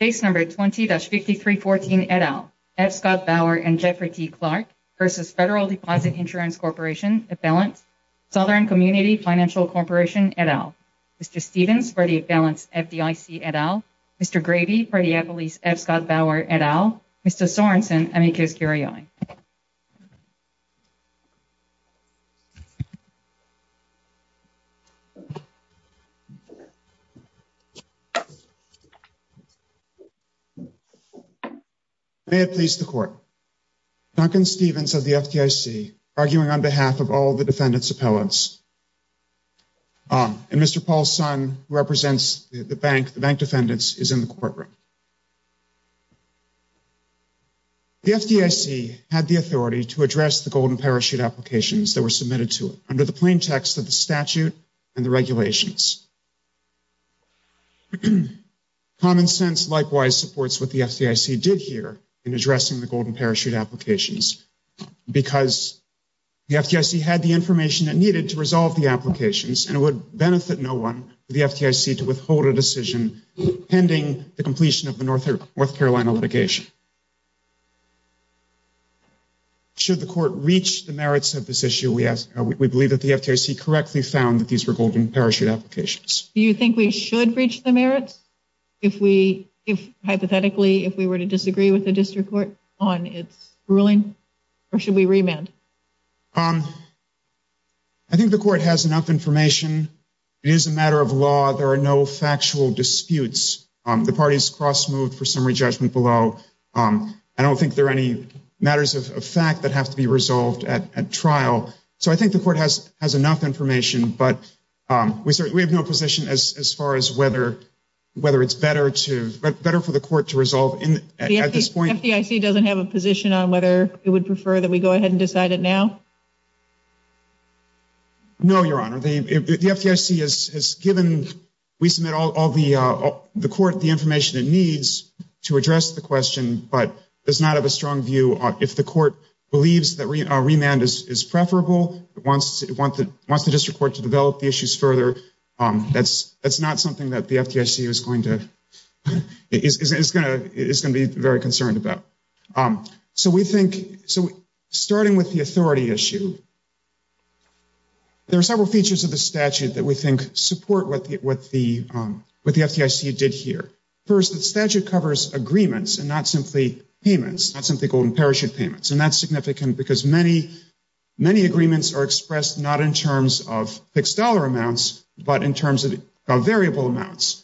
Case No. 20-5314, et al., F. Scott Bauer and Jeffrey T. Clark v. Federal Deposit Insurance Corporation, et al., Southern Community Financial Corporation, et al., Mr. Stephens, Freddie Appellant's FDIC, et al., Mr. Grady, Freddie Appley's F. Scott Bauer, et al., Mr. Sorensen, amicus curiae. May it please the Court. Duncan Stephens of the FDIC, arguing on behalf of all the defendants' appellants, and Mr. Paul Son, who represents the bank defendants, is in the courtroom. The FDIC had the authority to address the Golden Parachute applications that were submitted to it under the plain text of the statute and the regulations. Common sense, likewise, supports what the FDIC did here in addressing the Golden Parachute applications, because the FDIC had the information it needed to resolve the applications, and it would benefit no one for the FDIC to withhold a decision pending the completion of the North Carolina litigation. Should the Court reach the merits of this issue? We believe that the FDIC correctly found that these were Golden Parachute applications. Do you think we should reach the merits, hypothetically, if we were to disagree with the district court on its ruling? Or should we remand? I think the Court has enough information. It is a matter of law. There are no factual disputes. The parties cross-moved for summary judgment below. I don't think there are any matters of fact that have to be resolved at trial. So I think the Court has enough information, but we have no position as far as whether it's better for the Court to resolve at this point. The FDIC doesn't have a position on whether it would prefer that we go ahead and decide it now? No, Your Honor. The FDIC has given – we submit all the – the Court the information it needs to address the question, but does not have a strong view on – if the Court believes that remand is preferable, wants the district court to develop the issues further, that's not something that the FDIC is going to – is going to be very concerned about. So we think – so starting with the authority issue, there are several features of the statute that we think support what the FDIC did here. First, the statute covers agreements and not simply payments, not simply golden parachute payments. And that's significant because many agreements are expressed not in terms of fixed dollar amounts, but in terms of variable amounts,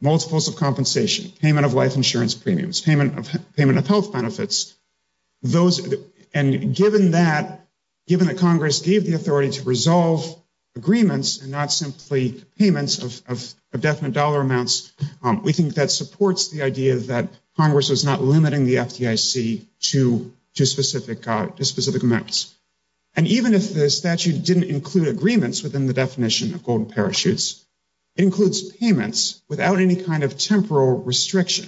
multiples of compensation, payment of life insurance premiums, payment of health benefits. Those – and given that – given that Congress gave the authority to resolve agreements and not simply payments of definite dollar amounts, we think that supports the idea that Congress was not limiting the FDIC to specific amounts. And even if the statute didn't include agreements within the definition of golden parachutes, it includes payments without any kind of temporal restriction.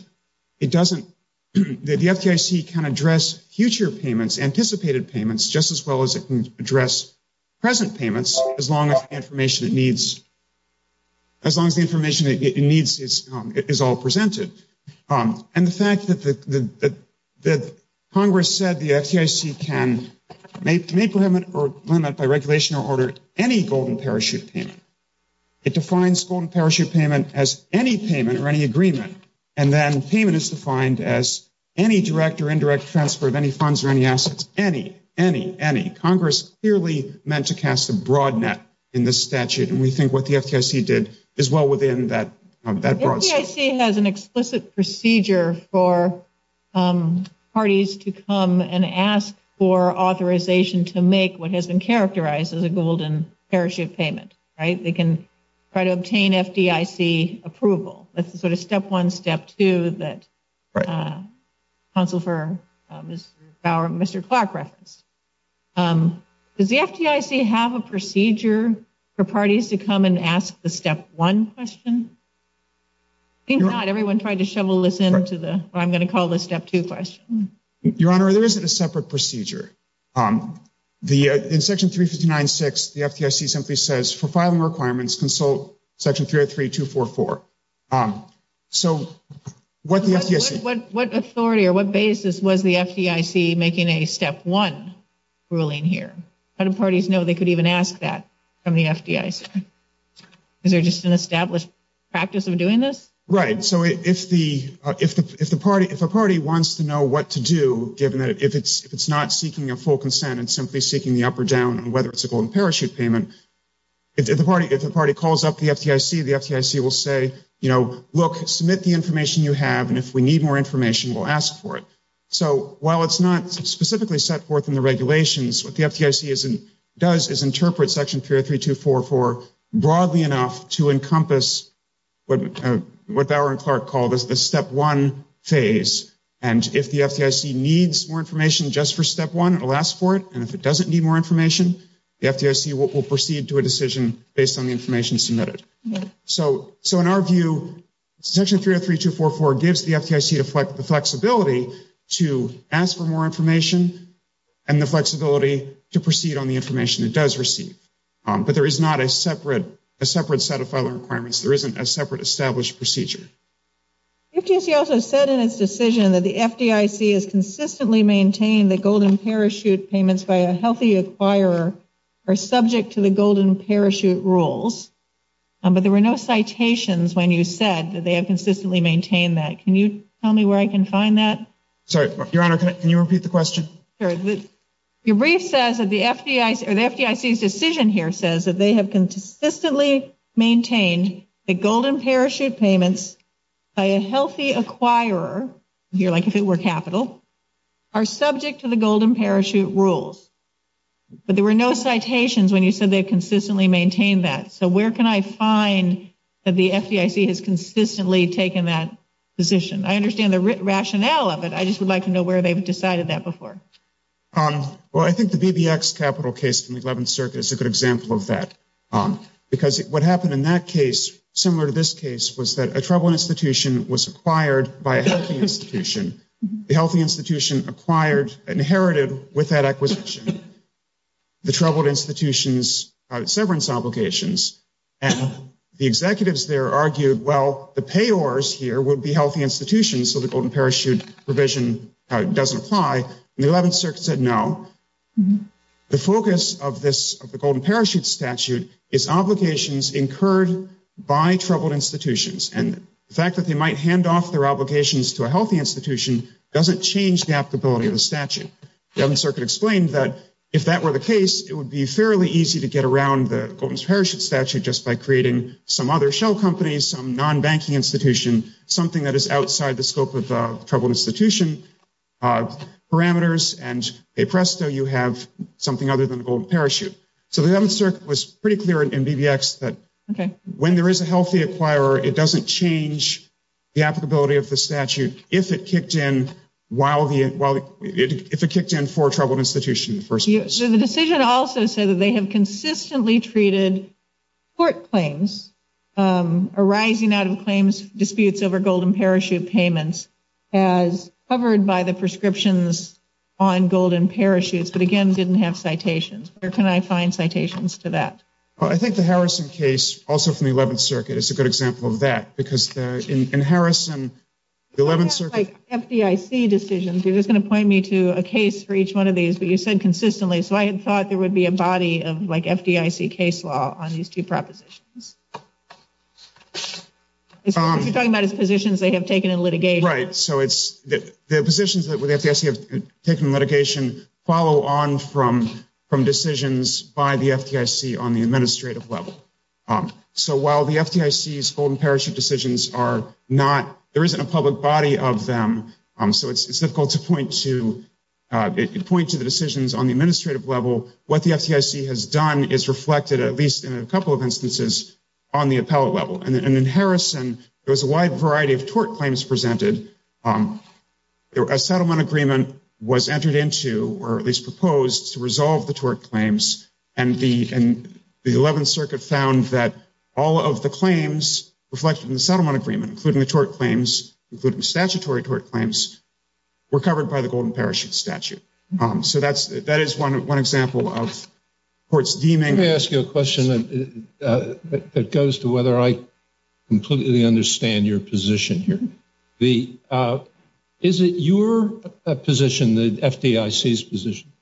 It doesn't – the FDIC can address future payments, anticipated payments, just as well as it can address present payments as long as the information it needs – as long as the information it needs is all presented. And the fact that Congress said the FDIC can make limit by regulation or order any golden parachute payment, it defines golden parachute payment as any payment or any agreement, and then payment is defined as any direct or indirect transfer of any funds or any assets, any, any, any. Congress clearly meant to cast a broad net in this statute, and we think what the FDIC did is well within that broad scope. The FDIC has an explicit procedure for parties to come and ask for authorization to make what has been characterized as a golden parachute payment, right? They can try to obtain FDIC approval. That's the sort of step one, step two that counsel for Mr. Bauer – Mr. Clark referenced. Does the FDIC have a procedure for parties to come and ask the step one question? I think not. Everyone tried to shovel this into the – what I'm going to call the step two question. Your Honor, there isn't a separate procedure. The – in Section 359.6, the FDIC simply says, for filing requirements, consult Section 303.244. So, what the FDIC – What authority or what basis was the FDIC making a step one ruling here? How do parties know they could even ask that from the FDIC? Is there just an established practice of doing this? Right. So, if the party – if a party wants to know what to do, given that if it's not seeking a full consent, it's simply seeking the up or down on whether it's a golden parachute payment, if the party calls up the FDIC, the FDIC will say, you know, look, submit the information you have, and if we need more information, we'll ask for it. So, while it's not specifically set forth in the regulations, what the FDIC does is interpret Section 303.244 broadly enough to encompass what Bauer and Clark call the step one phase, and if the FDIC needs more information just for step one, it will ask for it, and if it doesn't need more information, the FDIC will proceed to a decision based on the information submitted. So, in our view, Section 303.244 gives the FDIC the flexibility to ask for more information and the flexibility to proceed on the information it does receive, but there is not a separate set of filing requirements. There isn't a separate established procedure. The FDIC also said in its decision that the FDIC has consistently maintained that golden parachute payments by a healthy acquirer are subject to the golden parachute rules, but there were no citations when you said that they have consistently maintained that. Can you tell me where I can find that? Sorry, Your Honor, can you repeat the question? Your brief says that the FDIC's decision here says that they have consistently maintained that golden parachute payments by a healthy acquirer, like if it were capital, are subject to the golden parachute rules, but there were no citations when you said they have consistently maintained that. So where can I find that the FDIC has consistently taken that position? I understand the rationale of it, I just would like to know where they have decided that before. Well, I think the BBX capital case from the 11th Circuit is a good example of that, because what happened in that case, similar to this case, was that a tribal institution was acquired by a healthy institution. The healthy institution acquired and inherited with that acquisition the troubled institution's severance obligations, and the executives there argued, well, the payors here would be healthy institutions, so the golden parachute provision doesn't apply, and the 11th Circuit said no. The focus of the golden parachute statute is obligations incurred by troubled institutions, and the fact that they might hand off their obligations to a healthy institution doesn't change the applicability of the statute. The 11th Circuit explained that if that were the case, it would be fairly easy to get around the golden parachute statute just by creating some other shell companies, some non-banking institution, something that is outside the scope of troubled institution parameters, and presto, you have something other than a golden parachute. So the 11th Circuit was pretty clear in BBX that when there is a healthy acquirer, it doesn't change the applicability of the statute if it kicked in for a troubled institution in the first place. The decision also said that they have consistently treated court claims arising out of claims disputes over golden parachute payments as covered by the prescriptions on golden parachutes, but again didn't have citations. Where can I find citations to that? I think the Harrison case, also from the 11th Circuit, is a good example of that because in Harrison, the 11th Circuit... You don't have, like, FDIC decisions. You're just going to point me to a case for each one of these, but you said consistently, so I had thought there would be a body of, like, FDIC case law on these two propositions. You're talking about as positions they have taken in litigation. Right, so the positions that the FDIC have taken in litigation follow on from decisions by the FDIC on the administrative level. So while the FDIC's golden parachute decisions are not... There isn't a public body of them, so it's difficult to point to the decisions on the administrative level. What the FDIC has done is reflected, at least in a couple of instances, on the appellate level. And in Harrison, there was a wide variety of tort claims presented. A settlement agreement was entered into, or at least proposed, to resolve the tort claims, and the 11th Circuit found that all of the claims reflected in the settlement agreement, including the tort claims, including statutory tort claims, were covered by the golden parachute statute. So that is one example of courts deeming... Let me ask you a question that goes to whether I completely understand your position here. Is it your position, the FDIC's position,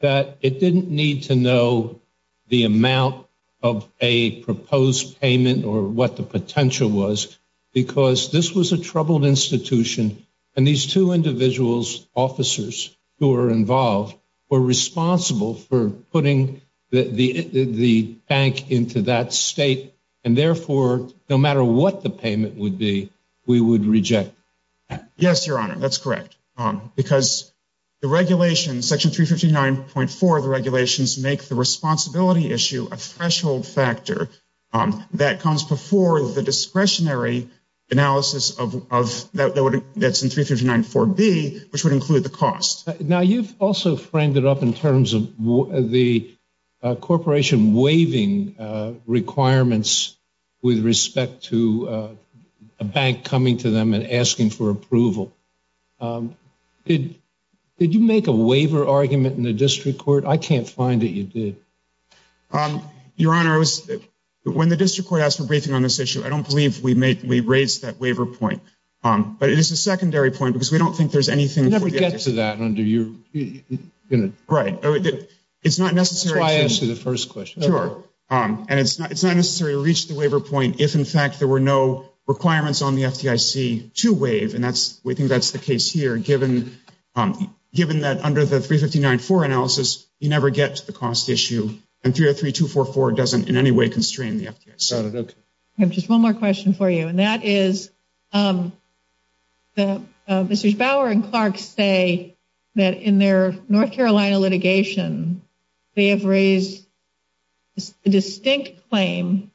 that it didn't need to know the amount of a proposed payment or what the potential was, because this was a troubled institution, and these two individuals, officers who were involved, were responsible for putting the bank into that state, and therefore, no matter what the payment would be, we would reject that? Yes, Your Honor, that's correct. Because the regulations, Section 359.4 of the regulations, make the responsibility issue a threshold factor that comes before the discretionary analysis that's in 359.4b, which would include the cost. Now, you've also framed it up in terms of the corporation waiving requirements with respect to a bank coming to them and asking for approval. Did you make a waiver argument in the district court? I can't find that you did. Your Honor, when the district court asked for a briefing on this issue, I don't believe we raised that waiver point. But it is a secondary point, because we don't think there's anything... It's not necessary to reach the waiver point if, in fact, there were no requirements on the FDIC to waive, and we think that's the case here, given that under the 359.4 analysis, you never get to the cost issue, and 303.244 doesn't in any way constrain the FDIC. I have just one more question for you, and that is, Mr. Bauer and Clark say that in their North Carolina litigation, they have raised a distinct claim,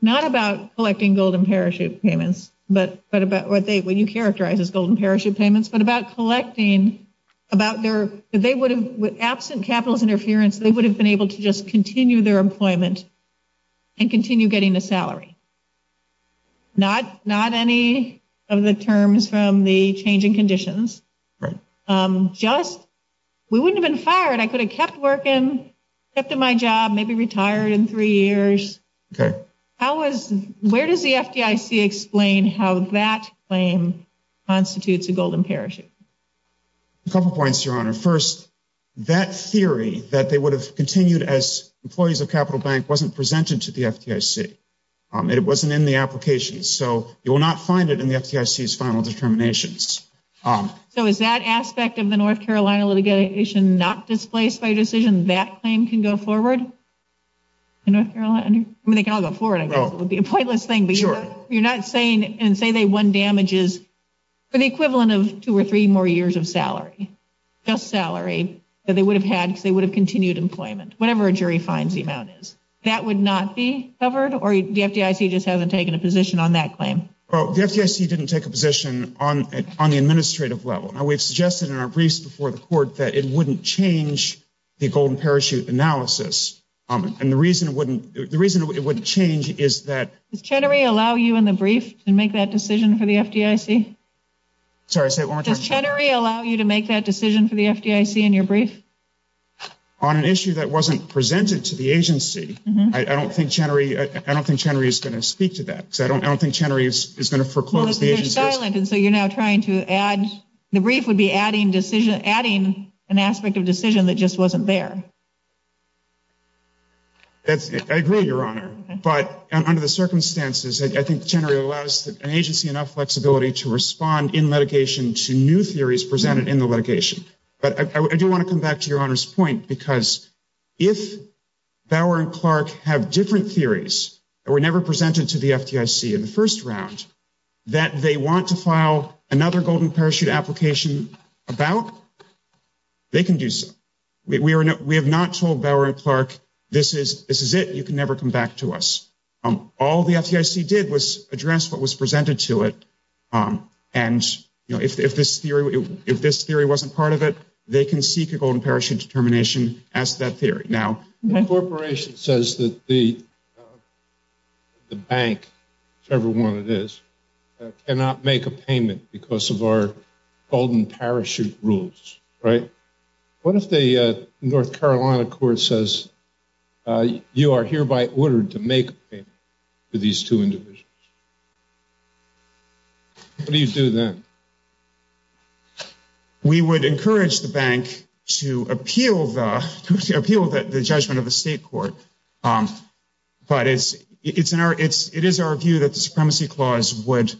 not about collecting gold and parachute payments, what you characterize as gold and parachute payments, but about collecting, that they would have, absent capitalist interference, they would have been able to just continue their employment and continue getting a salary. Not any of the terms from the change in conditions. Right. Just, we wouldn't have been fired. I could have kept working, kept at my job, maybe retired in three years. Okay. Where does the FDIC explain how that claim constitutes a gold and parachute? A couple points, Your Honor. First, that theory, that they would have continued as employees of Capital Bank, wasn't presented to the FDIC. It wasn't in the application, so you will not find it in the FDIC's final determinations. So is that aspect of the North Carolina litigation not displaced by your decision, that claim can go forward? In North Carolina? I mean, they can all go forward, I guess. It would be a pointless thing. Sure. But you're not saying, and say they won damages for the equivalent of two or three more years of salary, just salary, that they would have had because they would have continued employment, whatever a jury finds the amount is. That would not be covered? Or the FDIC just hasn't taken a position on that claim? Well, the FDIC didn't take a position on the administrative level. Now, we've suggested in our briefs before the court that it wouldn't change the gold and parachute analysis. And the reason it wouldn't change is that… Does Chenery allow you in the brief to make that decision for the FDIC? Sorry, say it one more time. Does Chenery allow you to make that decision for the FDIC in your brief? On an issue that wasn't presented to the agency, I don't think Chenery is going to speak to that. I don't think Chenery is going to foreclose the agency's… So you're now trying to add, the brief would be adding an aspect of decision that just wasn't there. I agree, Your Honor, but under the circumstances, I think Chenery allows an agency enough flexibility to respond in litigation to new theories presented in the litigation. But I do want to come back to Your Honor's point because if Bauer and Clark have different theories that were never presented to the FDIC in the first round that they want to file another gold and parachute application about, they can do so. We have not told Bauer and Clark, this is it, you can never come back to us. All the FDIC did was address what was presented to it, and if this theory wasn't part of it, they can seek a gold and parachute determination as to that theory. The corporation says that the bank, whichever one it is, cannot make a payment because of our gold and parachute rules, right? What if the North Carolina court says you are hereby ordered to make a payment to these two individuals? What do you do then? We would encourage the bank to appeal the judgment of the state court, but it is our view that the supremacy clause would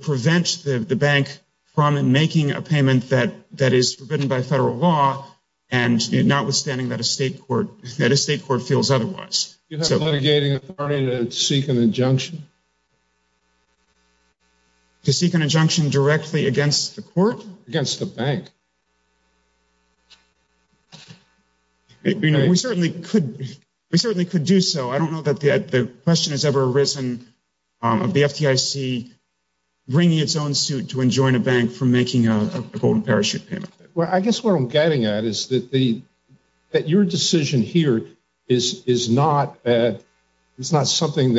prevent the bank from making a payment that is forbidden by federal law and notwithstanding that a state court feels otherwise. Do you have a litigating authority to seek an injunction? To seek an injunction directly against the court? Against the bank. We certainly could do so. I don't know that the question has ever arisen of the FDIC bringing its own suit to enjoin a bank from making a gold and parachute payment. I guess what I'm getting at is that your decision here is not something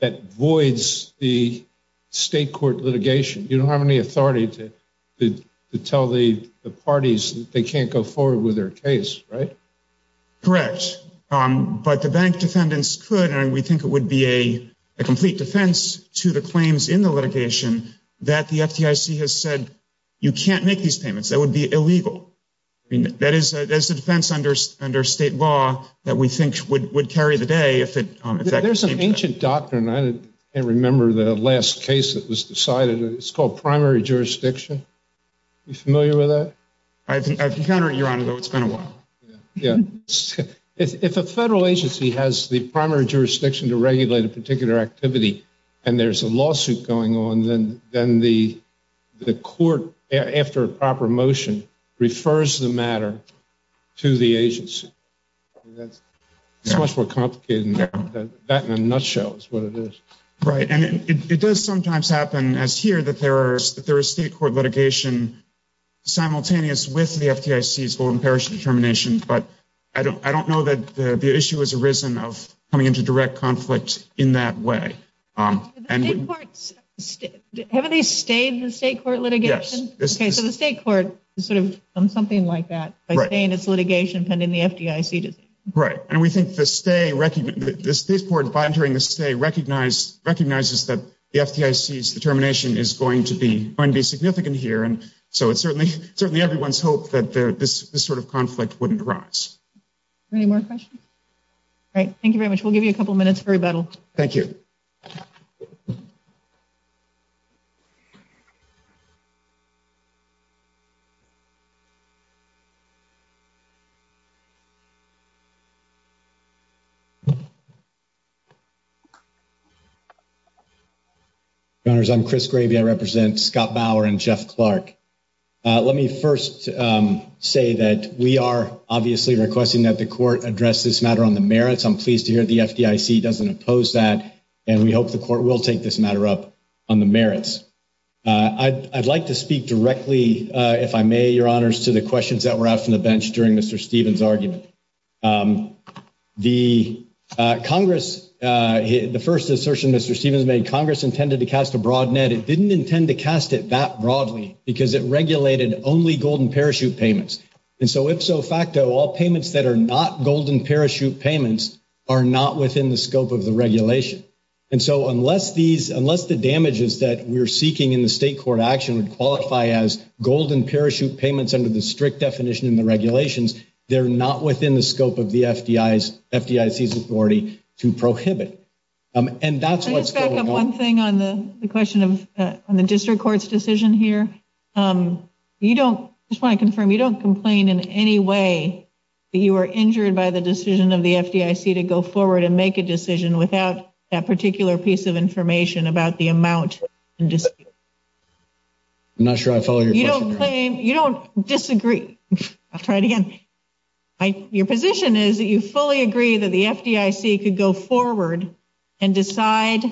that voids the state court litigation. You don't have any authority to tell the parties that they can't go forward with their case, right? Correct, but the bank defendants could, and we think it would be a complete defense to the claims in the litigation that the FDIC has said you can't make these payments. That would be illegal. That is a defense under state law that we think would carry the day. There's an ancient doctrine. I can't remember the last case that was decided. It's called primary jurisdiction. Are you familiar with that? I've encountered it, Your Honor, though it's been a while. If a federal agency has the primary jurisdiction to regulate a particular activity, and there's a lawsuit going on, then the court, after a proper motion, refers the matter to the agency. It's much more complicated than that in a nutshell is what it is. Right, and it does sometimes happen, as here, that there is state court litigation simultaneous with the FDIC's gold and parachute determination, but I don't know that the issue has arisen of coming into direct conflict in that way. Haven't they stayed in the state court litigation? Yes. Okay, so the state court has sort of done something like that by staying in its litigation pending the FDIC decision. Right, and we think the state court, by entering the state, recognizes that the FDIC's determination is going to be significant here, and so it's certainly everyone's hope that this sort of conflict wouldn't arise. Any more questions? All right, thank you very much. We'll give you a couple minutes for rebuttal. Thank you. Thank you. Your Honors, I'm Chris Gravey. I represent Scott Bauer and Jeff Clark. Let me first say that we are obviously requesting that the court address this matter on the merits. I'm pleased to hear the FDIC doesn't oppose that, and we hope the court will take this matter up on the merits. I'd like to speak directly, if I may, Your Honors, to the questions that were asked on the bench during Mr. Stevens' argument. The Congress, the first assertion Mr. Stevens made, Congress intended to cast a broad net. It didn't intend to cast it that broadly because it regulated only gold and parachute payments, and so ipso facto, all payments that are not gold and parachute payments are not within the scope of the regulation, and so unless the damages that we're seeking in the state court action would qualify as gold and parachute payments under the strict definition in the regulations, they're not within the scope of the FDIC's authority to prohibit, and that's what's going on. Can I just back up one thing on the question of the district court's decision here? You don't, I just want to confirm, you don't complain in any way that you were injured by the decision of the FDIC to go forward and make a decision without that particular piece of information about the amount in dispute? I'm not sure I follow your question, Your Honor. You don't claim, you don't disagree, I'll try it again. Your position is that you fully agree that the FDIC could go forward and decide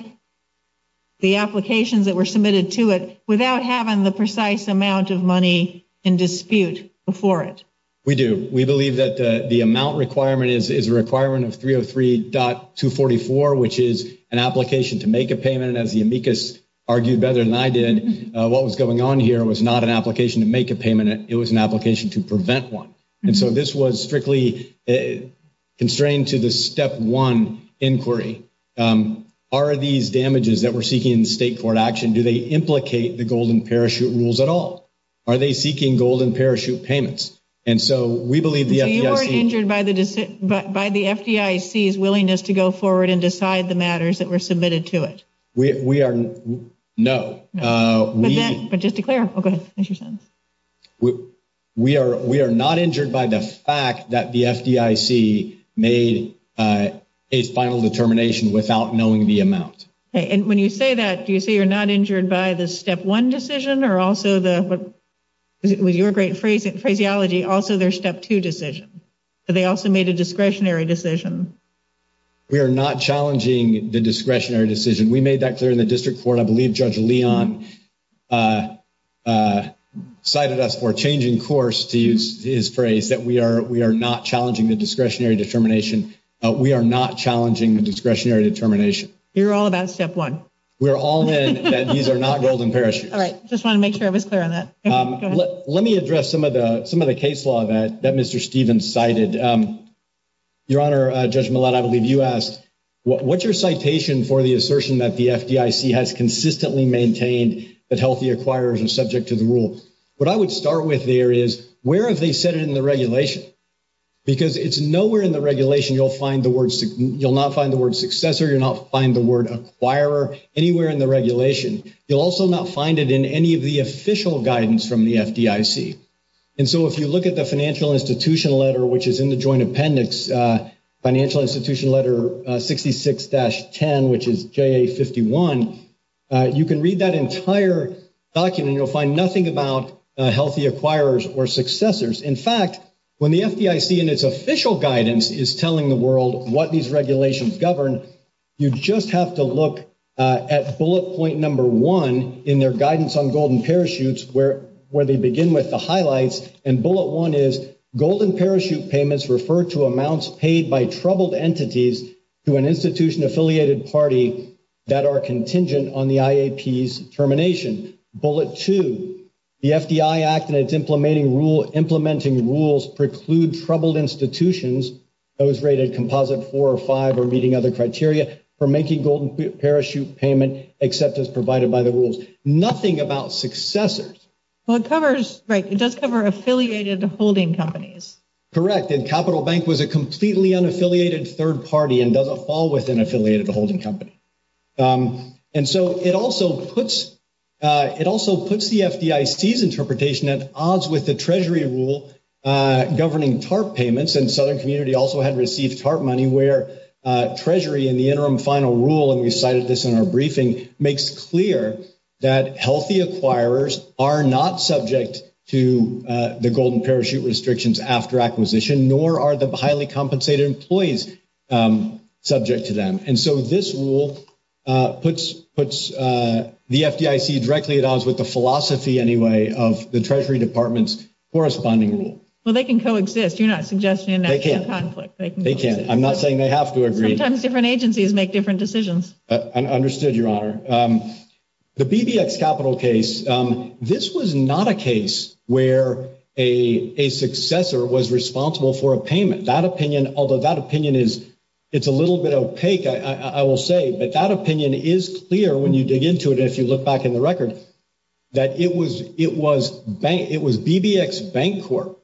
the applications that were submitted to it without having the precise amount of money in dispute before it. We do. We believe that the amount requirement is a requirement of 303.244, which is an application to make a payment, and as the amicus argued better than I did, what was going on here was not an application to make a payment. It was an application to prevent one, and so this was strictly constrained to the step one inquiry. Are these damages that we're seeking in the state court action, do they implicate the Golden Parachute rules at all? Are they seeking Golden Parachute payments? And so we believe the FDIC. So you weren't injured by the FDIC's willingness to go forward and decide the matters that were submitted to it? We are, no. But just declare, oh, go ahead, finish your sentence. We are not injured by the fact that the FDIC made its final determination without knowing the amount. And when you say that, do you say you're not injured by the step one decision or also the, with your great phraseology, also their step two decision? They also made a discretionary decision. We are not challenging the discretionary decision. We made that clear in the district court. And I believe Judge Leon cited us for changing course to use his phrase that we are not challenging the discretionary determination. We are not challenging the discretionary determination. You're all about step one. We're all in that these are not Golden Parachutes. All right. Just wanted to make sure I was clear on that. Go ahead. Let me address some of the case law that Mr. Stevens cited. Your Honor, Judge Millett, I believe you asked, what's your citation for the assertion that the FDIC has consistently maintained that healthy acquirers are subject to the rule? What I would start with there is where have they said it in the regulation? Because it's nowhere in the regulation you'll find the word, you'll not find the word successor, you'll not find the word acquirer anywhere in the regulation. You'll also not find it in any of the official guidance from the FDIC. And so if you look at the Financial Institution Letter, which is in the Joint Appendix, Financial Institution Letter 66-10, which is JA51, you can read that entire document and you'll find nothing about healthy acquirers or successors. In fact, when the FDIC in its official guidance is telling the world what these regulations govern, you just have to look at bullet point number one in their guidance on golden parachutes where they begin with the highlights. And bullet one is golden parachute payments refer to amounts paid by troubled entities to an institution-affiliated party that are contingent on the IAP's termination. Bullet two, the FDI Act and its implementing rules preclude troubled institutions, those rated composite four or five or meeting other criteria, from making golden parachute payment except as provided by the rules. Nothing about successors. Well, it covers, right, it does cover affiliated holding companies. Correct. And Capital Bank was a completely unaffiliated third party and doesn't fall within affiliated holding company. And so it also puts the FDIC's interpretation at odds with the Treasury rule governing TARP payments, and Southern Community also had received TARP money where Treasury in the interim final rule, and we cited this in our briefing, makes clear that healthy acquirers are not subject to the golden parachute restrictions after acquisition, nor are the highly compensated employees subject to them. And so this rule puts the FDIC directly at odds with the philosophy, anyway, of the Treasury Department's corresponding rule. Well, they can coexist. You're not suggesting an actual conflict. They can't. I'm not saying they have to agree. Sometimes different agencies make different decisions. Understood, Your Honor. The BBX Capital case, this was not a case where a successor was responsible for a payment. That opinion, although that opinion is, it's a little bit opaque, I will say, but that opinion is clear when you dig into it and if you look back in the record, that it was BBX Bank Corp.,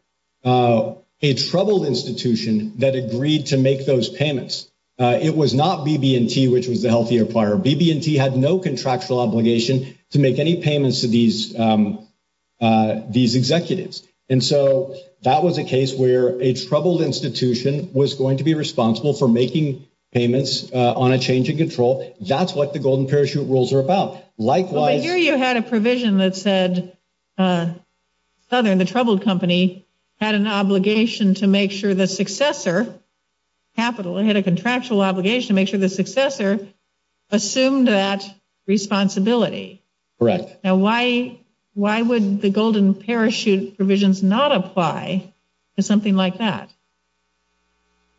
a troubled institution, that agreed to make those payments. It was not BB&T, which was the healthy acquirer. BB&T had no contractual obligation to make any payments to these executives. And so that was a case where a troubled institution was going to be responsible for making payments on a change in control. That's what the golden parachute rules are about. But here you had a provision that said Southern, the troubled company, had an obligation to make sure the successor, Capital had a contractual obligation to make sure the successor assumed that responsibility. Correct. Now why would the golden parachute provisions not apply to something like that?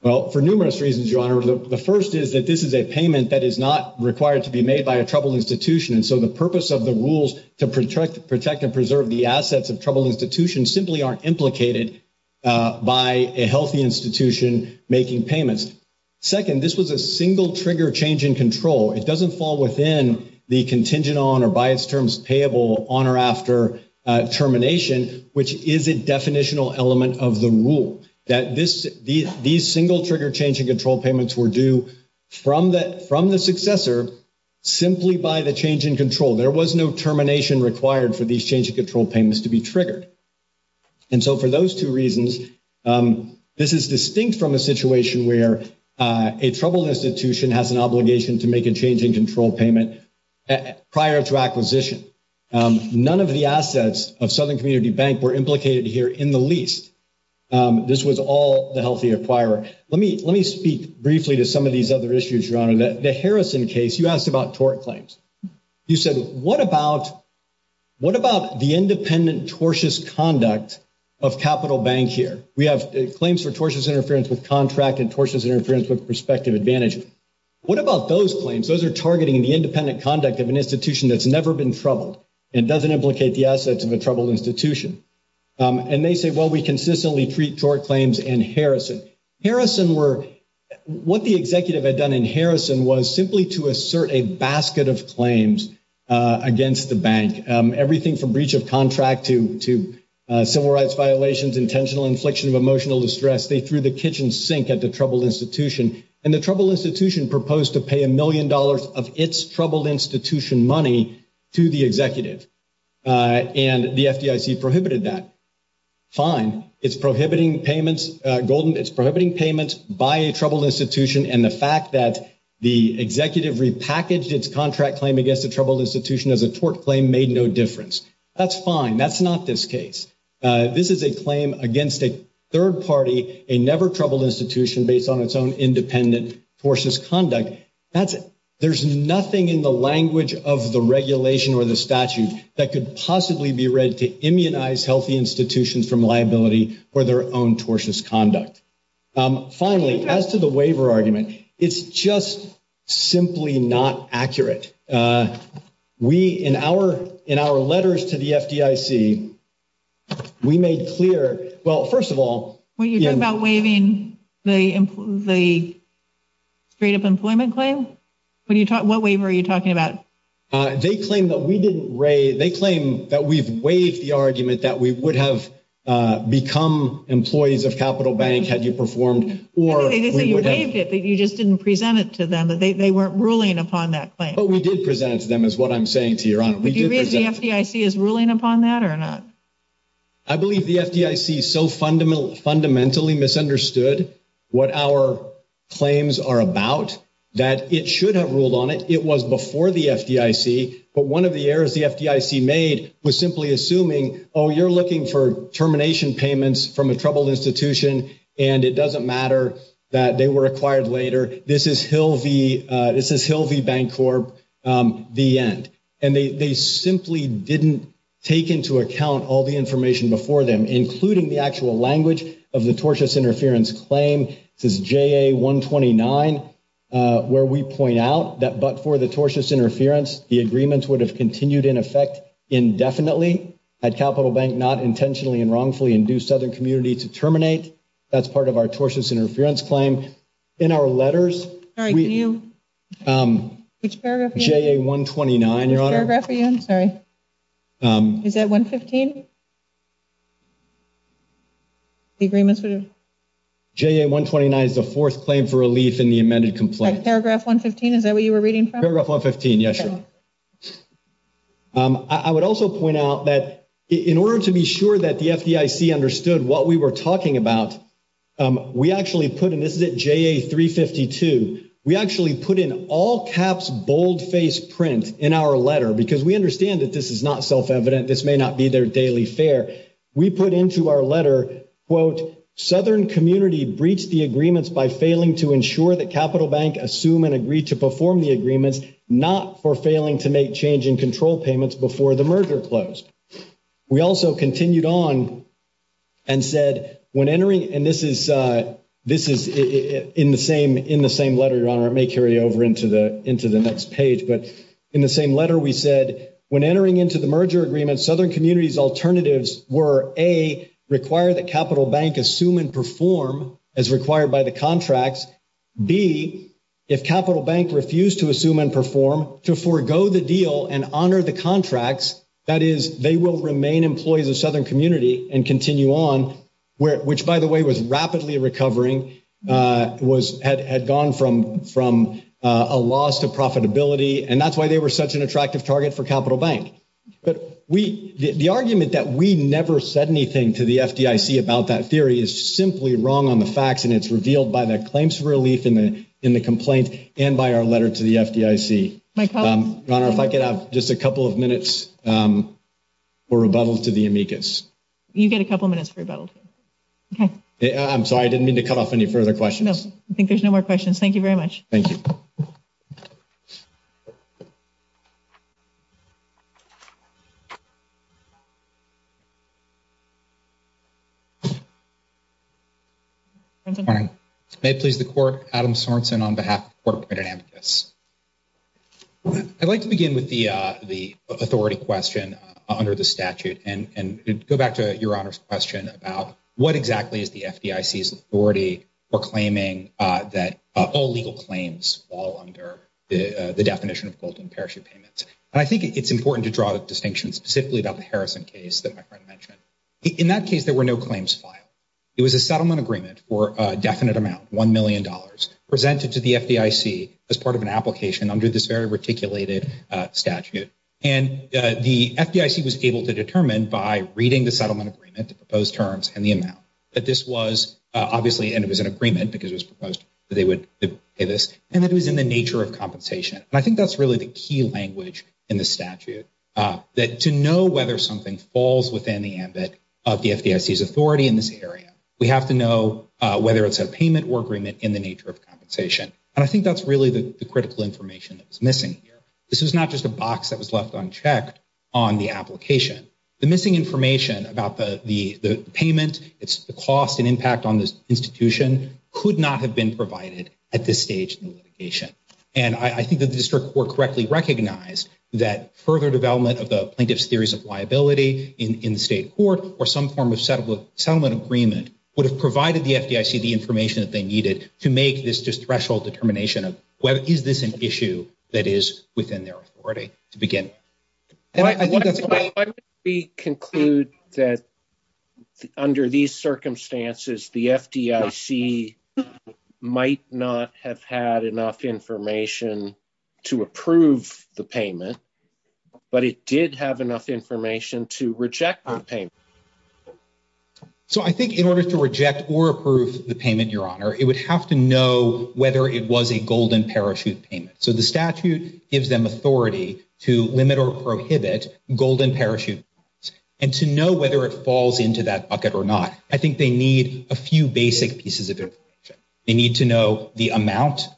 Well, for numerous reasons, Your Honor. The first is that this is a payment that is not required to be made by a troubled institution. And so the purpose of the rules to protect and preserve the assets of troubled institutions simply aren't implicated by a healthy institution making payments. Second, this was a single trigger change in control. It doesn't fall within the contingent on or by its terms payable on or after termination, which is a definitional element of the rule. These single trigger change in control payments were due from the successor simply by the change in control. There was no termination required for these change in control payments to be triggered. And so for those two reasons, this is distinct from a situation where a troubled institution has an obligation to make a change in control payment prior to acquisition. None of the assets of Southern Community Bank were implicated here in the least. This was all the healthy acquirer. Let me speak briefly to some of these other issues, Your Honor. The Harrison case, you asked about tort claims. You said, what about the independent tortious conduct of Capital Bank here? We have claims for tortious interference with contract and tortious interference with prospective advantage. What about those claims? Those are targeting the independent conduct of an institution that's never been troubled and doesn't implicate the assets of a troubled institution. And they say, well, we consistently treat tort claims in Harrison. What the executive had done in Harrison was simply to assert a basket of claims against the bank, everything from breach of contract to civil rights violations, intentional infliction of emotional distress. They threw the kitchen sink at the troubled institution. And the troubled institution proposed to pay a million dollars of its troubled institution money to the executive. And the FDIC prohibited that. Fine. It's prohibiting payments, Golden, it's prohibiting payments by a troubled institution. And the fact that the executive repackaged its contract claim against a troubled institution as a tort claim made no difference. That's fine. That's not this case. This is a claim against a third party, a never troubled institution based on its own independent tortuous conduct. That's it. There's nothing in the language of the regulation or the statute that could possibly be read to immunize healthy institutions from liability for their own tortuous conduct. Finally, as to the waiver argument, it's just simply not accurate. We, in our letters to the FDIC, we made clear, well, first of all. When you talk about waiving the straight up employment claim, what waiver are you talking about? They claim that we've waived the argument that we would have become employees of Capital Bank had you performed. You just didn't present it to them. They weren't ruling upon that claim. But we did present it to them is what I'm saying to your honor. Do you think the FDIC is ruling upon that or not? I believe the FDIC so fundamentally misunderstood what our claims are about that it should have ruled on it. It was before the FDIC. But one of the errors the FDIC made was simply assuming, oh, you're looking for termination payments from a troubled institution. And it doesn't matter that they were acquired later. This is Hill v. This is Hill v. Bancorp, the end. And they simply didn't take into account all the information before them, including the actual language of the tortious interference claim. This is J.A. 129, where we point out that. But for the tortious interference, the agreements would have continued in effect indefinitely at Capital Bank, not intentionally and wrongfully induced Southern community to terminate. That's part of our tortious interference claim in our letters. J.A. 129, your honor. I'm sorry. Is that 115? The agreements would have J.A. 129 is the fourth claim for relief in the amended complaint. Paragraph 115. Is that what you were reading? Paragraph 115. Yes, sir. I would also point out that in order to be sure that the FDIC understood what we were talking about, we actually put in. This is at J.A. 352. We actually put in all caps, boldface print in our letter because we understand that this is not self-evident. This may not be their daily fare. We put into our letter, quote, Southern community breached the agreements by failing to ensure that Capital Bank assume and agree to perform the agreements, not for failing to make change in control payments before the merger closed. We also continued on and said when entering, and this is in the same letter, your honor. It may carry over into the next page. But in the same letter, we said when entering into the merger agreement, Southern community's alternatives were, A, require that Capital Bank assume and perform as required by the contracts. B, if Capital Bank refused to assume and perform, to forego the deal and honor the contracts, that is, they will remain employees of Southern community and continue on, which, by the way, was rapidly recovering, had gone from a loss to profitability. And that's why they were such an attractive target for Capital Bank. But the argument that we never said anything to the FDIC about that theory is simply wrong on the facts, and it's revealed by the claims relief in the complaint and by our letter to the FDIC. Your honor, if I could have just a couple of minutes for rebuttal to the amicus. You get a couple minutes for rebuttal. I'm sorry. I didn't mean to cut off any further questions. I think there's no more questions. Thank you very much. Thank you. Morning. May it please the court, Adam Sorenson on behalf of the court committed amicus. I'd like to begin with the, the authority question under the statute and go back to your honor's question about what exactly is the FDIC's authority for claiming that all legal claims fall under the definition of gold and parachute payments. And I think it's important to draw the same line as you, Adam. I think you brought a distinction specifically about the Harrison case that my friend mentioned. In that case, there were no claims filed. It was a settlement agreement for a definite amount, $1 million, presented to the FDIC as part of an application under this very reticulated statute. And the FDIC was able to determine by reading the settlement agreement, the proposed terms, and the amount that this was obviously, and it was an agreement because it was proposed that they would pay this, and that it was in the nature of compensation. And I think that's really the key language in the statute, that to know whether something falls within the ambit of the FDIC's authority in this area, we have to know whether it's a payment or agreement in the nature of compensation. And I think that's really the critical information that's missing here. This is not just a box that was left unchecked on the application. The missing information about the payment, it's the cost and impact on this institution could not have been provided at this stage in the litigation. And I think that the district court correctly recognized that further development of the plaintiff's theories of liability in the state court or some form of settlement agreement would have provided the FDIC the information that they needed to make this threshold determination of is this an issue that is within their authority to begin with. Why would we conclude that under these circumstances, the FDIC might not have had enough information to approve the payment, but it did have enough information to reject the payment? So I think in order to reject or approve the payment, Your Honor, it would have to know whether it was a golden parachute payment. So the statute gives them authority to limit or prohibit golden parachute payments. And to know whether it falls into that bucket or not, I think they need a few basic pieces of information. They need to know the amount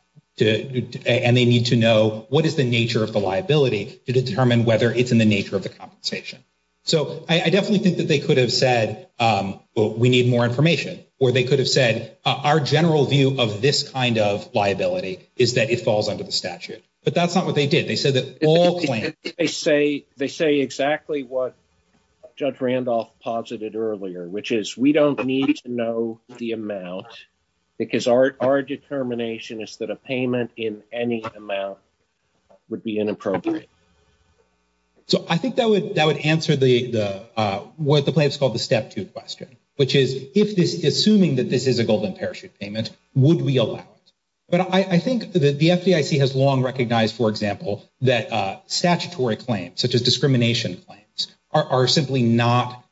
and they need to know what is the nature of the liability to determine whether it's in the nature of the compensation. So I definitely think that they could have said, well, we need more information. Or they could have said our general view of this kind of liability is that it falls under the statute. But that's not what they did. They said that they say they say exactly what Judge Randolph posited earlier, which is we don't need to know the amount because our determination is that a payment in any amount would be inappropriate. So I think that would answer what the plaintiffs called the step two question, which is if this is assuming that this is a golden parachute payment, would we allow it? But I think that the FDIC has long recognized, for example, that statutory claims such as discrimination claims are simply not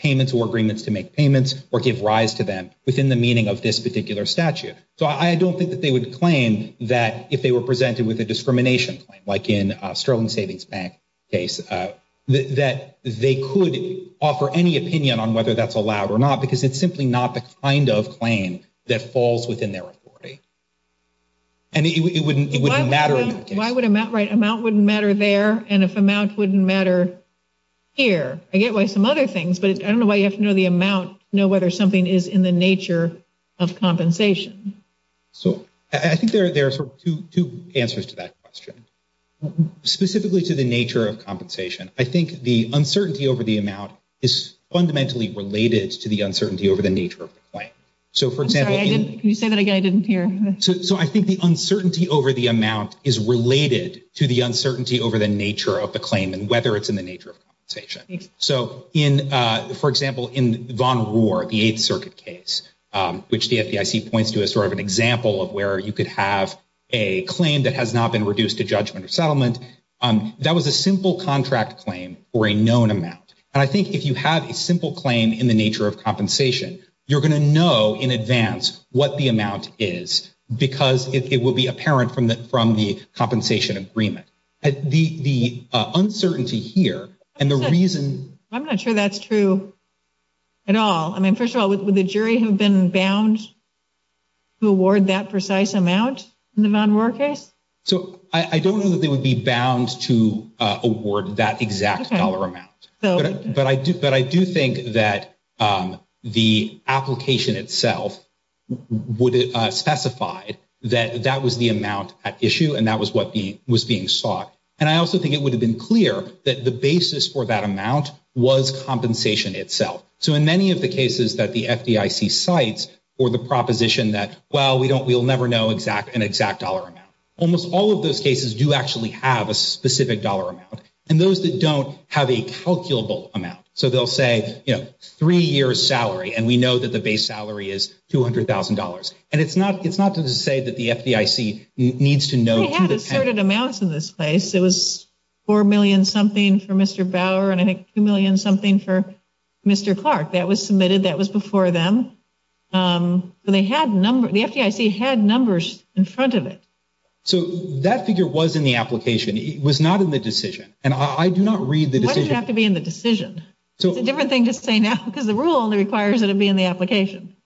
payments or agreements to make payments or give rise to them within the meaning of this particular statute. So I don't think that they would claim that if they were presented with a discrimination claim, like in Sterling Savings Bank case, that they could offer any opinion on whether that's allowed or not, because it's simply not the kind of claim that falls within their authority. And it wouldn't matter in that case. Why would amount, right, amount wouldn't matter there? And if amount wouldn't matter here? I get why some other things, but I don't know why you have to know the amount, know whether something is in the nature of compensation. So I think there are two answers to that question, specifically to the nature of compensation. I think the uncertainty over the amount is fundamentally related to the uncertainty over the nature of the claim. So, for example, can you say that again? I didn't hear. So I think the uncertainty over the amount is related to the uncertainty over the nature of the claim and whether it's in the nature of compensation. So in, for example, in Von Rohr, the Eighth Circuit case, which the FDIC points to as sort of an example of where you could have a claim that has not been reduced to judgment or settlement. That was a simple contract claim for a known amount. And I think if you have a simple claim in the nature of compensation, you're going to know in advance what the amount is because it will be apparent from the compensation agreement. The uncertainty here and the reason. I'm not sure that's true at all. I mean, first of all, would the jury have been bound to award that precise amount in the Von Rohr case? So I don't know that they would be bound to award that exact dollar amount. But I do think that the application itself would have specified that that was the amount at issue and that was what was being sought. And I also think it would have been clear that the basis for that amount was compensation itself. So in many of the cases that the FDIC cites or the proposition that, well, we'll never know an exact dollar amount, almost all of those cases do actually have a specific dollar amount. And those that don't have a calculable amount. So they'll say, you know, three years' salary, and we know that the base salary is $200,000. And it's not to say that the FDIC needs to know. They had asserted amounts in this case. It was $4 million-something for Mr. Bauer and I think $2 million-something for Mr. Clark. That was submitted. That was before them. The FDIC had numbers in front of it. So that figure was in the application. It was not in the decision. And I do not read the decision. Why did it have to be in the decision? It's a different thing to say now because the rule only requires that it be in the application.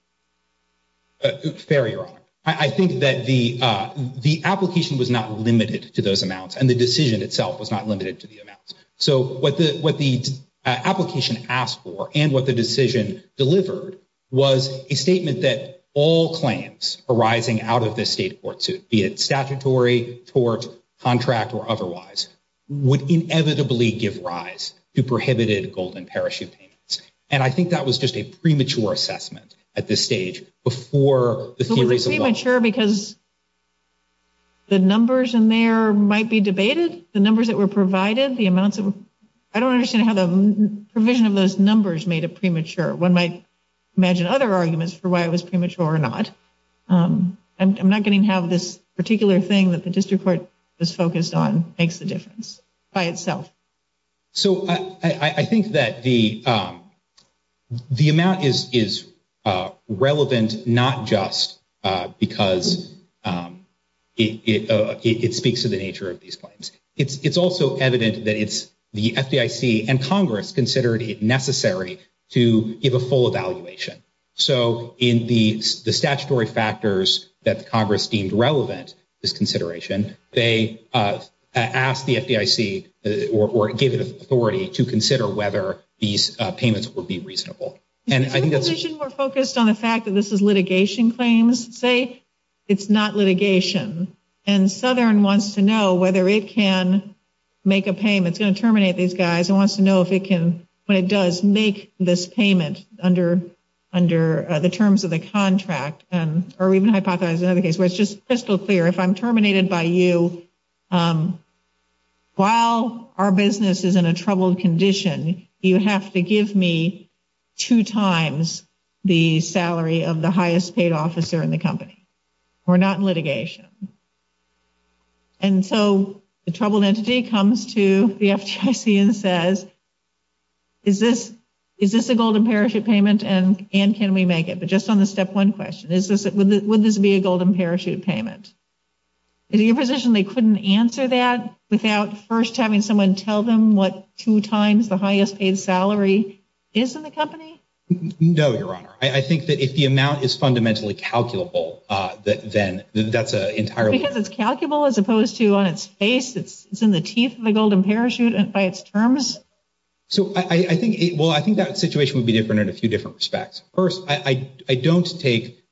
Fair, Your Honor. I think that the application was not limited to those amounts and the decision itself was not limited to the amounts. So what the application asked for and what the decision delivered was a statement that all claims arising out of this state court suit, be it statutory, tort, contract, or otherwise, would inevitably give rise to prohibited golden parachute payments. And I think that was just a premature assessment at this stage before the theories evolved. It was premature because the numbers in there might be debated. The numbers that were provided, the amounts of them. I don't understand how the provision of those numbers made it premature. One might imagine other arguments for why it was premature or not. I'm not going to have this particular thing that the district court was focused on makes a difference by itself. So I think that the amount is relevant not just because it speaks to the nature of these claims. It's also evident that it's the FDIC and Congress considered it necessary to give a full evaluation. So in the statutory factors that Congress deemed relevant, this consideration, they asked the FDIC or gave it authority to consider whether these payments would be reasonable. Is your position more focused on the fact that this is litigation claims? Say it's not litigation and Southern wants to know whether it can make a payment. It's going to terminate these guys. It wants to know if it can, when it does make this payment under the terms of the contract or even hypothesize another case where it's just crystal clear. If I'm terminated by you, while our business is in a troubled condition, you have to give me two times the salary of the highest paid officer in the company. We're not in litigation. And so the troubled entity comes to the FDIC and says, is this a golden parachute payment and can we make it? But just on the step one question, would this be a golden parachute payment? Is it your position they couldn't answer that without first having someone tell them what two times the highest paid salary is in the company? No, Your Honor. I think that if the amount is fundamentally calculable, then that's entirely. Because it's calculable as opposed to on its face. It's in the teeth of the golden parachute and by its terms. So I think, well, I think that situation would be different in a few different respects. First, I don't take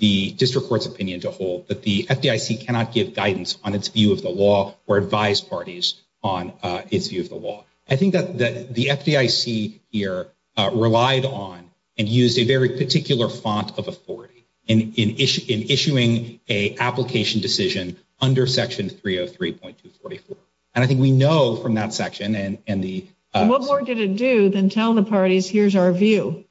the district court's opinion to hold that the FDIC cannot give guidance on its view of the law or advise parties on its view of the law. I think that the FDIC here relied on and used a very particular font of authority in issuing an application decision under Section 303.244. And I think we know from that section and the. What more did it do than tell the parties, here's our view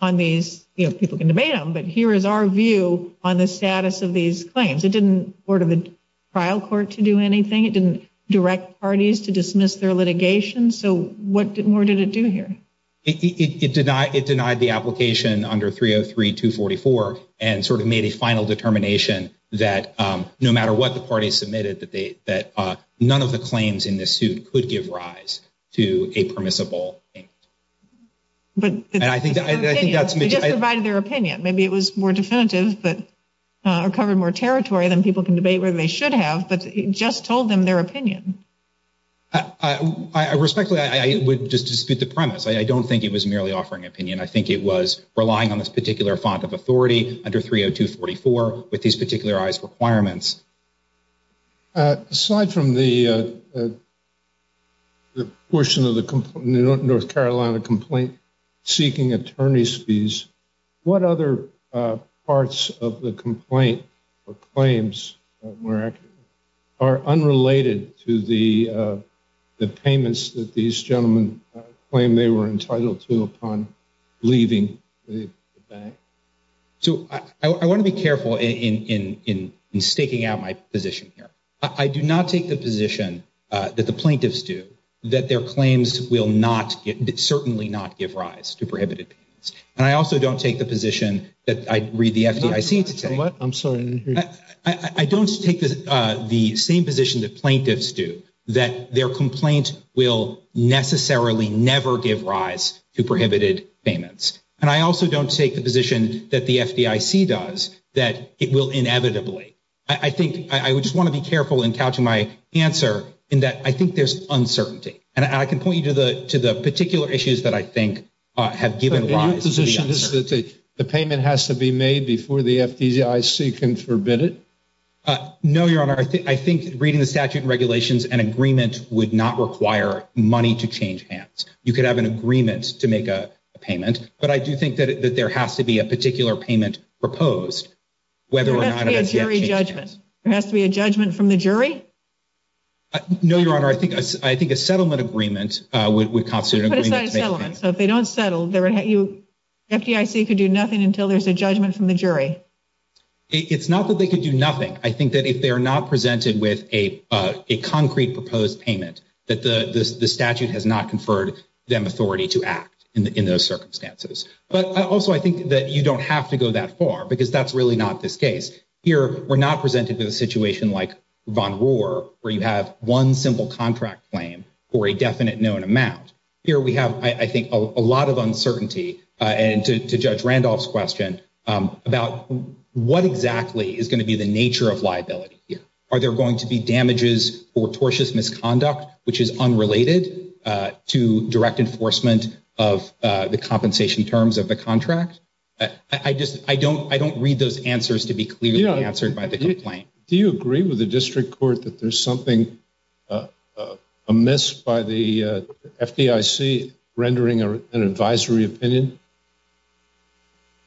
on these? People can debate them, but here is our view on the status of these claims. It didn't order the trial court to do anything. It didn't direct parties to dismiss their litigation. So what more did it do here? It did not. It denied the application under 303.244 and sort of made a final determination that no matter what the party submitted, that none of the claims in this suit could give rise to a permissible. But I think that's just provided their opinion. Maybe it was more definitive, but covered more territory than people can debate where they should have. But it just told them their opinion. I respectfully would just dispute the premise. I don't think it was merely offering opinion. I think it was relying on this particular font of authority under 302.244 with these particularized requirements. Aside from the portion of the North Carolina complaint seeking attorney's fees, what other parts of the complaint or claims are unrelated to the payments that these gentlemen claim they were entitled to upon leaving the bank? So I want to be careful in staking out my position here. I do not take the position that the plaintiffs do that their claims will certainly not give rise to prohibited payments. And I also don't take the position that I read the FDIC to take. I don't take the same position that plaintiffs do, that their complaint will necessarily never give rise to prohibited payments. And I also don't take the position that the FDIC does, that it will inevitably. I think I would just want to be careful in couching my answer in that I think there's uncertainty. And I can point you to the particular issues that I think have given rise to the answer. So your position is that the payment has to be made before the FDIC can forbid it? No, Your Honor. I think reading the statute and regulations, an agreement would not require money to change hands. You could have an agreement to make a payment. But I do think that there has to be a particular payment proposed whether or not it has yet changed hands. There has to be a jury judgment. There has to be a judgment from the jury? No, Your Honor. I think a settlement agreement would constitute an agreement to make a payment. So if they don't settle, the FDIC could do nothing until there's a judgment from the jury? It's not that they could do nothing. I think that if they are not presented with a concrete proposed payment, that the statute has not conferred them authority to act in those circumstances. But also I think that you don't have to go that far because that's really not this case. Here we're not presented with a situation like Von Rohr where you have one simple contract claim for a definite known amount. Here we have, I think, a lot of uncertainty. And to Judge Randolph's question about what exactly is going to be the nature of liability here. Are there going to be damages or tortious misconduct which is unrelated to direct enforcement of the compensation terms of the contract? I don't read those answers to be clearly answered by the complaint. Do you agree with the district court that there's something amiss by the FDIC rendering an advisory opinion?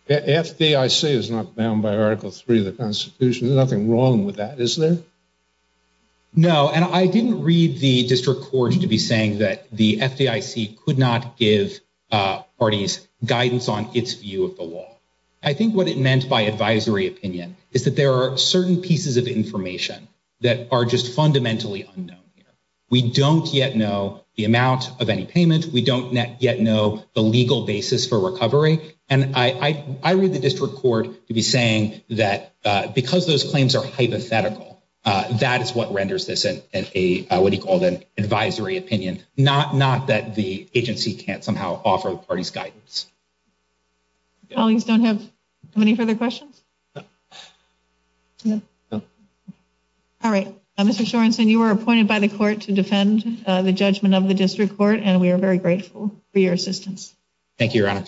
FDIC is not bound by Article 3 of the Constitution. There's nothing wrong with that, is there? No, and I didn't read the district court to be saying that the FDIC could not give parties guidance on its view of the law. I think what it meant by advisory opinion is that there are certain pieces of information that are just fundamentally unknown. We don't yet know the amount of any payment. We don't yet know the legal basis for recovery. And I read the district court to be saying that because those claims are hypothetical, that is what renders this what he called an advisory opinion. Not that the agency can't somehow offer the party's guidance. Colleagues don't have any further questions? All right, Mr. Shorenson, you are appointed by the court to defend the judgment of the district court, and we are very grateful for your assistance. Thank you, Your Honor.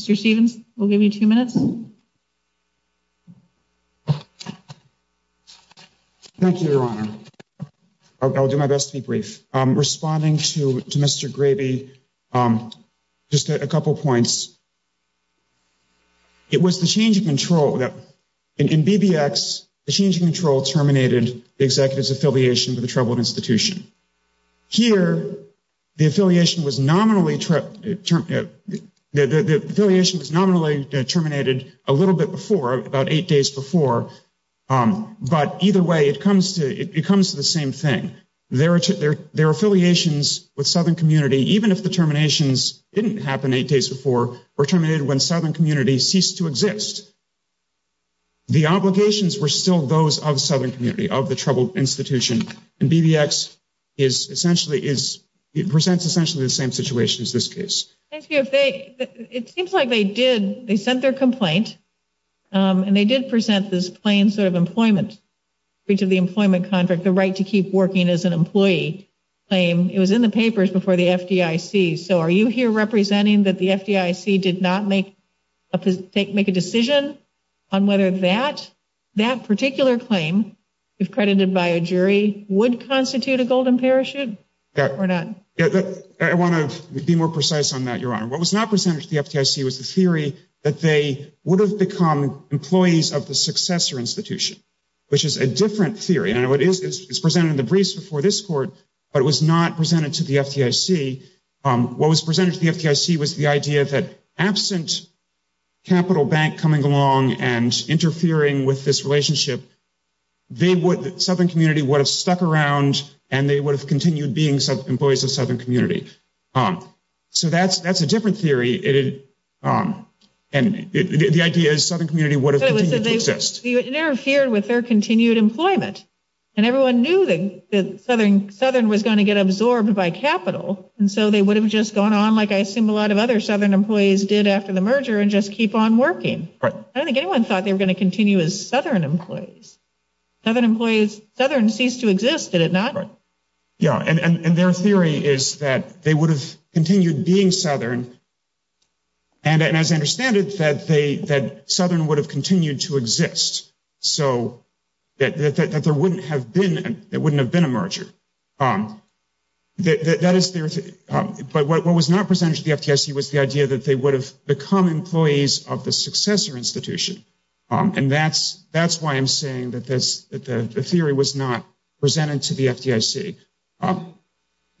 Mr. Stephens, we'll give you two minutes. Thank you, Your Honor. I'll do my best to be brief. Responding to Mr. Gravey, just a couple points. It was the change of control that, in BBX, the change of control terminated the executive's affiliation with a troubled institution. Here, the affiliation was nominally terminated a little bit before, about eight days before. But either way, it comes to the same thing. Their affiliations with Southern Community, even if the terminations didn't happen eight days before, were terminated when Southern Community ceased to exist. The obligations were still those of Southern Community, of the troubled institution. And BBX presents essentially the same situation as this case. It seems like they sent their complaint, and they did present this plain sort of employment, breach of the employment contract, the right to keep working as an employee claim. It was in the papers before the FDIC. So are you here representing that the FDIC did not make a decision on whether that particular claim, if credited by a jury, would constitute a golden parachute or not? I want to be more precise on that, Your Honor. What was not presented to the FDIC was the theory that they would have become employees of the successor institution, which is a different theory. It's presented in the briefs before this Court, but it was not presented to the FDIC. What was presented to the FDIC was the idea that absent Capital Bank coming along and interfering with this relationship, Southern Community would have stuck around, and they would have continued being employees of Southern Community. So that's a different theory. And the idea is Southern Community would have continued to exist. They would have interfered with their continued employment. And everyone knew that Southern was going to get absorbed by Capital, and so they would have just gone on like I assume a lot of other Southern employees did after the merger and just keep on working. I don't think anyone thought they were going to continue as Southern employees. Southern employees, Southern ceased to exist, did it not? Yeah, and their theory is that they would have continued being Southern. And as I understand it, that Southern would have continued to exist, so that there wouldn't have been a merger. But what was not presented to the FDIC was the idea that they would have become employees of the successor institution. And that's why I'm saying that the theory was not presented to the FDIC.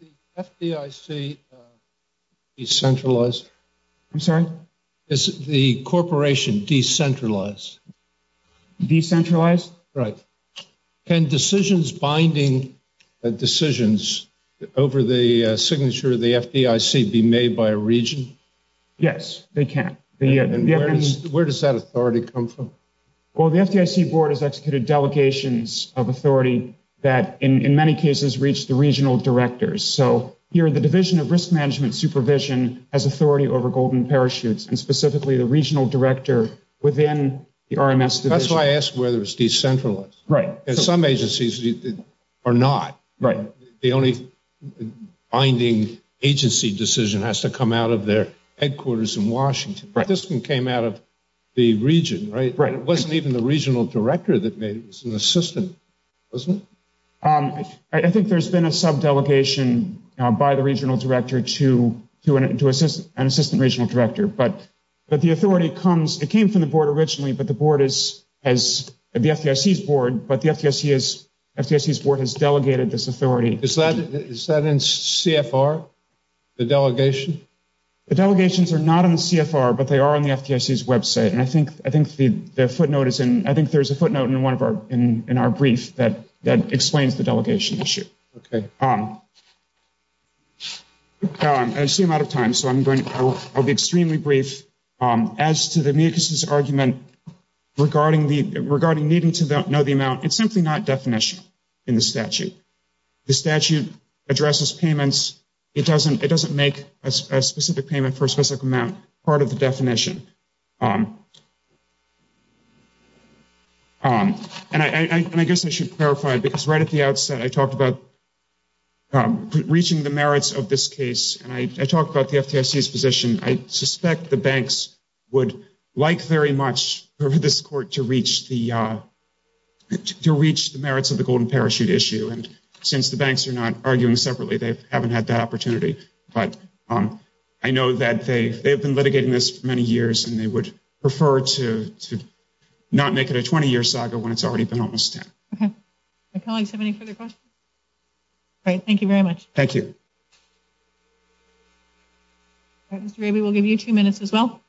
Is the FDIC decentralized? I'm sorry? Is the corporation decentralized? Decentralized? Right. Can decisions binding decisions over the signature of the FDIC be made by a region? Yes, they can. And where does that authority come from? Well, the FDIC board has executed delegations of authority that in many cases reach the regional directors. So here the Division of Risk Management Supervision has authority over Golden Parachutes, and specifically the regional director within the RMS division. That's why I asked whether it's decentralized. Some agencies are not. The only binding agency decision has to come out of their headquarters in Washington. But this one came out of the region, right? It wasn't even the regional director that made it, it was an assistant, wasn't it? I think there's been a sub-delegation by the regional director to an assistant regional director. But the authority comes, it came from the board originally, but the FDIC's board has delegated this authority. Is that in CFR, the delegation? The delegations are not in CFR, but they are on the FDIC's website. And I think there's a footnote in our brief that explains the delegation issue. Okay. I see I'm out of time, so I'll be extremely brief. As to the MUCUS's argument regarding needing to know the amount, it's simply not definitional in the statute. The statute addresses payments. It doesn't make a specific payment for a specific amount part of the definition. And I guess I should clarify, because right at the outset, I talked about reaching the merits of this case. And I talked about the FDIC's position. I suspect the banks would like very much for this court to reach the merits of the Golden Parachute issue. And since the banks are not arguing separately, they haven't had that opportunity. But I know that they have been litigating this for many years. And they would prefer to not make it a 20-year saga when it's already been almost 10. Okay. Do my colleagues have any further questions? Great. Thank you very much. Thank you. All right. Mr. Raby, we'll give you two minutes as well.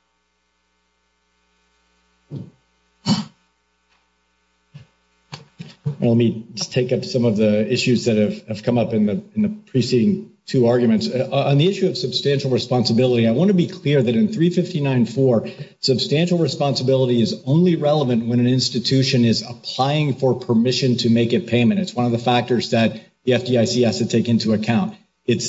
Let me just take up some of the issues that have come up in the preceding two arguments. On the issue of substantial responsibility, I want to be clear that in 359-4, substantial responsibility is only relevant when an institution is applying for permission to make a payment. It's one of the factors that the FDIC has to take into account. It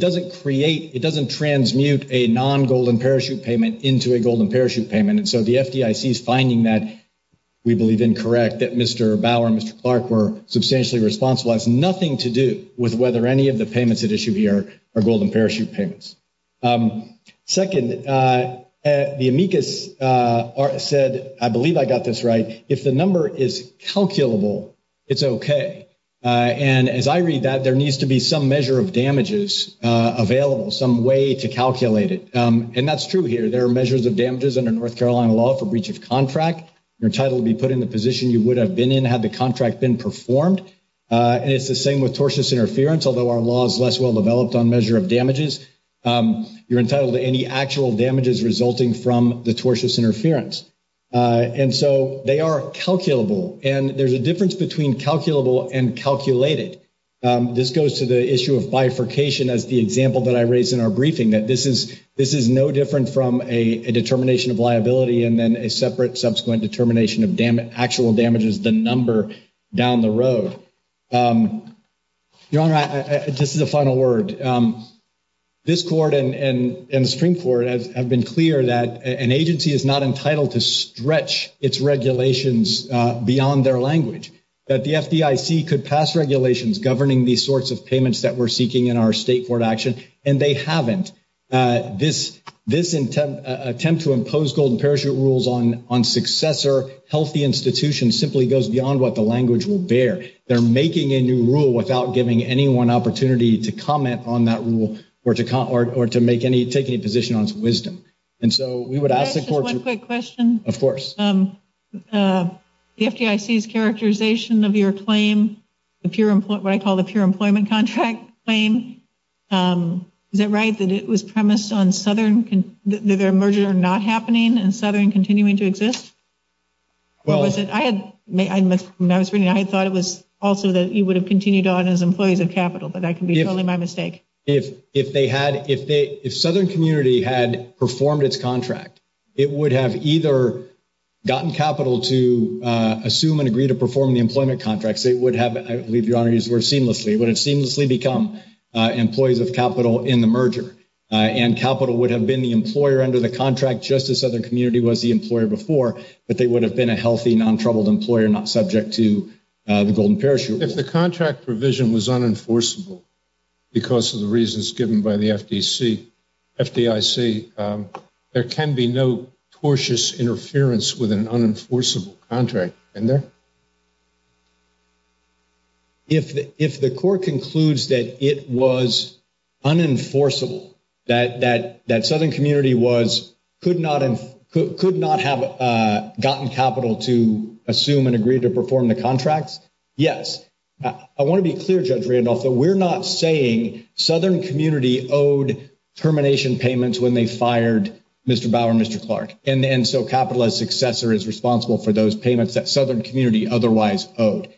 doesn't create, it doesn't transmute a non-Golden Parachute payment into a Golden Parachute payment. And so the FDIC is finding that we believe incorrect, that Mr. Bauer and Mr. Clark were substantially responsible. It has nothing to do with whether any of the payments at issue here are Golden Parachute payments. Second, the amicus said, I believe I got this right, if the number is calculable, it's okay. And as I read that, there needs to be some measure of damages available, some way to calculate it. And that's true here. There are measures of damages under North Carolina law for breach of contract. You're entitled to be put in the position you would have been in had the contract been performed. And it's the same with tortious interference, although our law is less well-developed on measure of damages. You're entitled to any actual damages resulting from the tortious interference. And so they are calculable. And there's a difference between calculable and calculated. This goes to the issue of bifurcation as the example that I raised in our briefing, that this is no different from a determination of liability and then a separate subsequent determination of actual damages, the number down the road. Your Honor, this is a final word. This court and the Supreme Court have been clear that an agency is not entitled to stretch its regulations beyond their language. That the FDIC could pass regulations governing these sorts of payments that we're seeking in our state court action, and they haven't. This attempt to impose Golden Parachute rules on successor healthy institutions simply goes beyond what the language will bear. They're making a new rule without giving anyone opportunity to comment on that rule or to make any, take any position on its wisdom. And so we would ask the court to- Can I ask just one quick question? Of course. The FDIC's characterization of your claim, what I call the pure employment contract claim, is it right that it was premised on Southern, that their merger not happening and Southern continuing to exist? When I was reading it, I thought it was also that you would have continued on as employees of Capital, but that can be totally my mistake. If they had, if Southern Community had performed its contract, it would have either gotten Capital to assume and agree to perform the employment contracts. It would have, I believe Your Honor, it would have seamlessly become employees of Capital in the merger. And Capital would have been the employer under the contract just as Southern Community was the employer before. But they would have been a healthy, non-troubled employer, not subject to the Golden Parachute Rule. If the contract provision was unenforceable because of the reasons given by the FDIC, there can be no tortious interference with an unenforceable contract, can there? If the court concludes that it was unenforceable, that Southern Community was, could not have gotten Capital to assume and agree to perform the contracts, yes. I want to be clear, Judge Randolph, that we're not saying Southern Community owed termination payments when they fired Mr. Bauer and Mr. Clark. And so Capital, as successor, is responsible for those payments that Southern Community otherwise owed.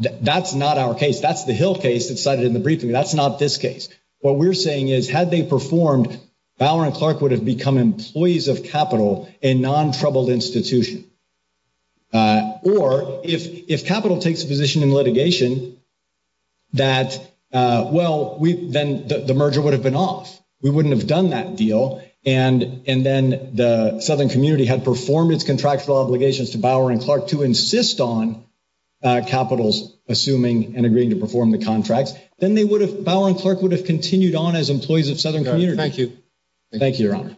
That's not our case. That's the Hill case that's cited in the briefing. That's not this case. What we're saying is, had they performed, Bauer and Clark would have become employees of Capital, a non-troubled institution. Or if Capital takes a position in litigation that, well, then the merger would have been off. We wouldn't have done that deal. And then the Southern Community had performed its contractual obligations to Bauer and Clark to insist on Capital's assuming and agreeing to perform the contracts. Then they would have, Bauer and Clark would have continued on as employees of Southern Community. Thank you. Thank you, Your Honor.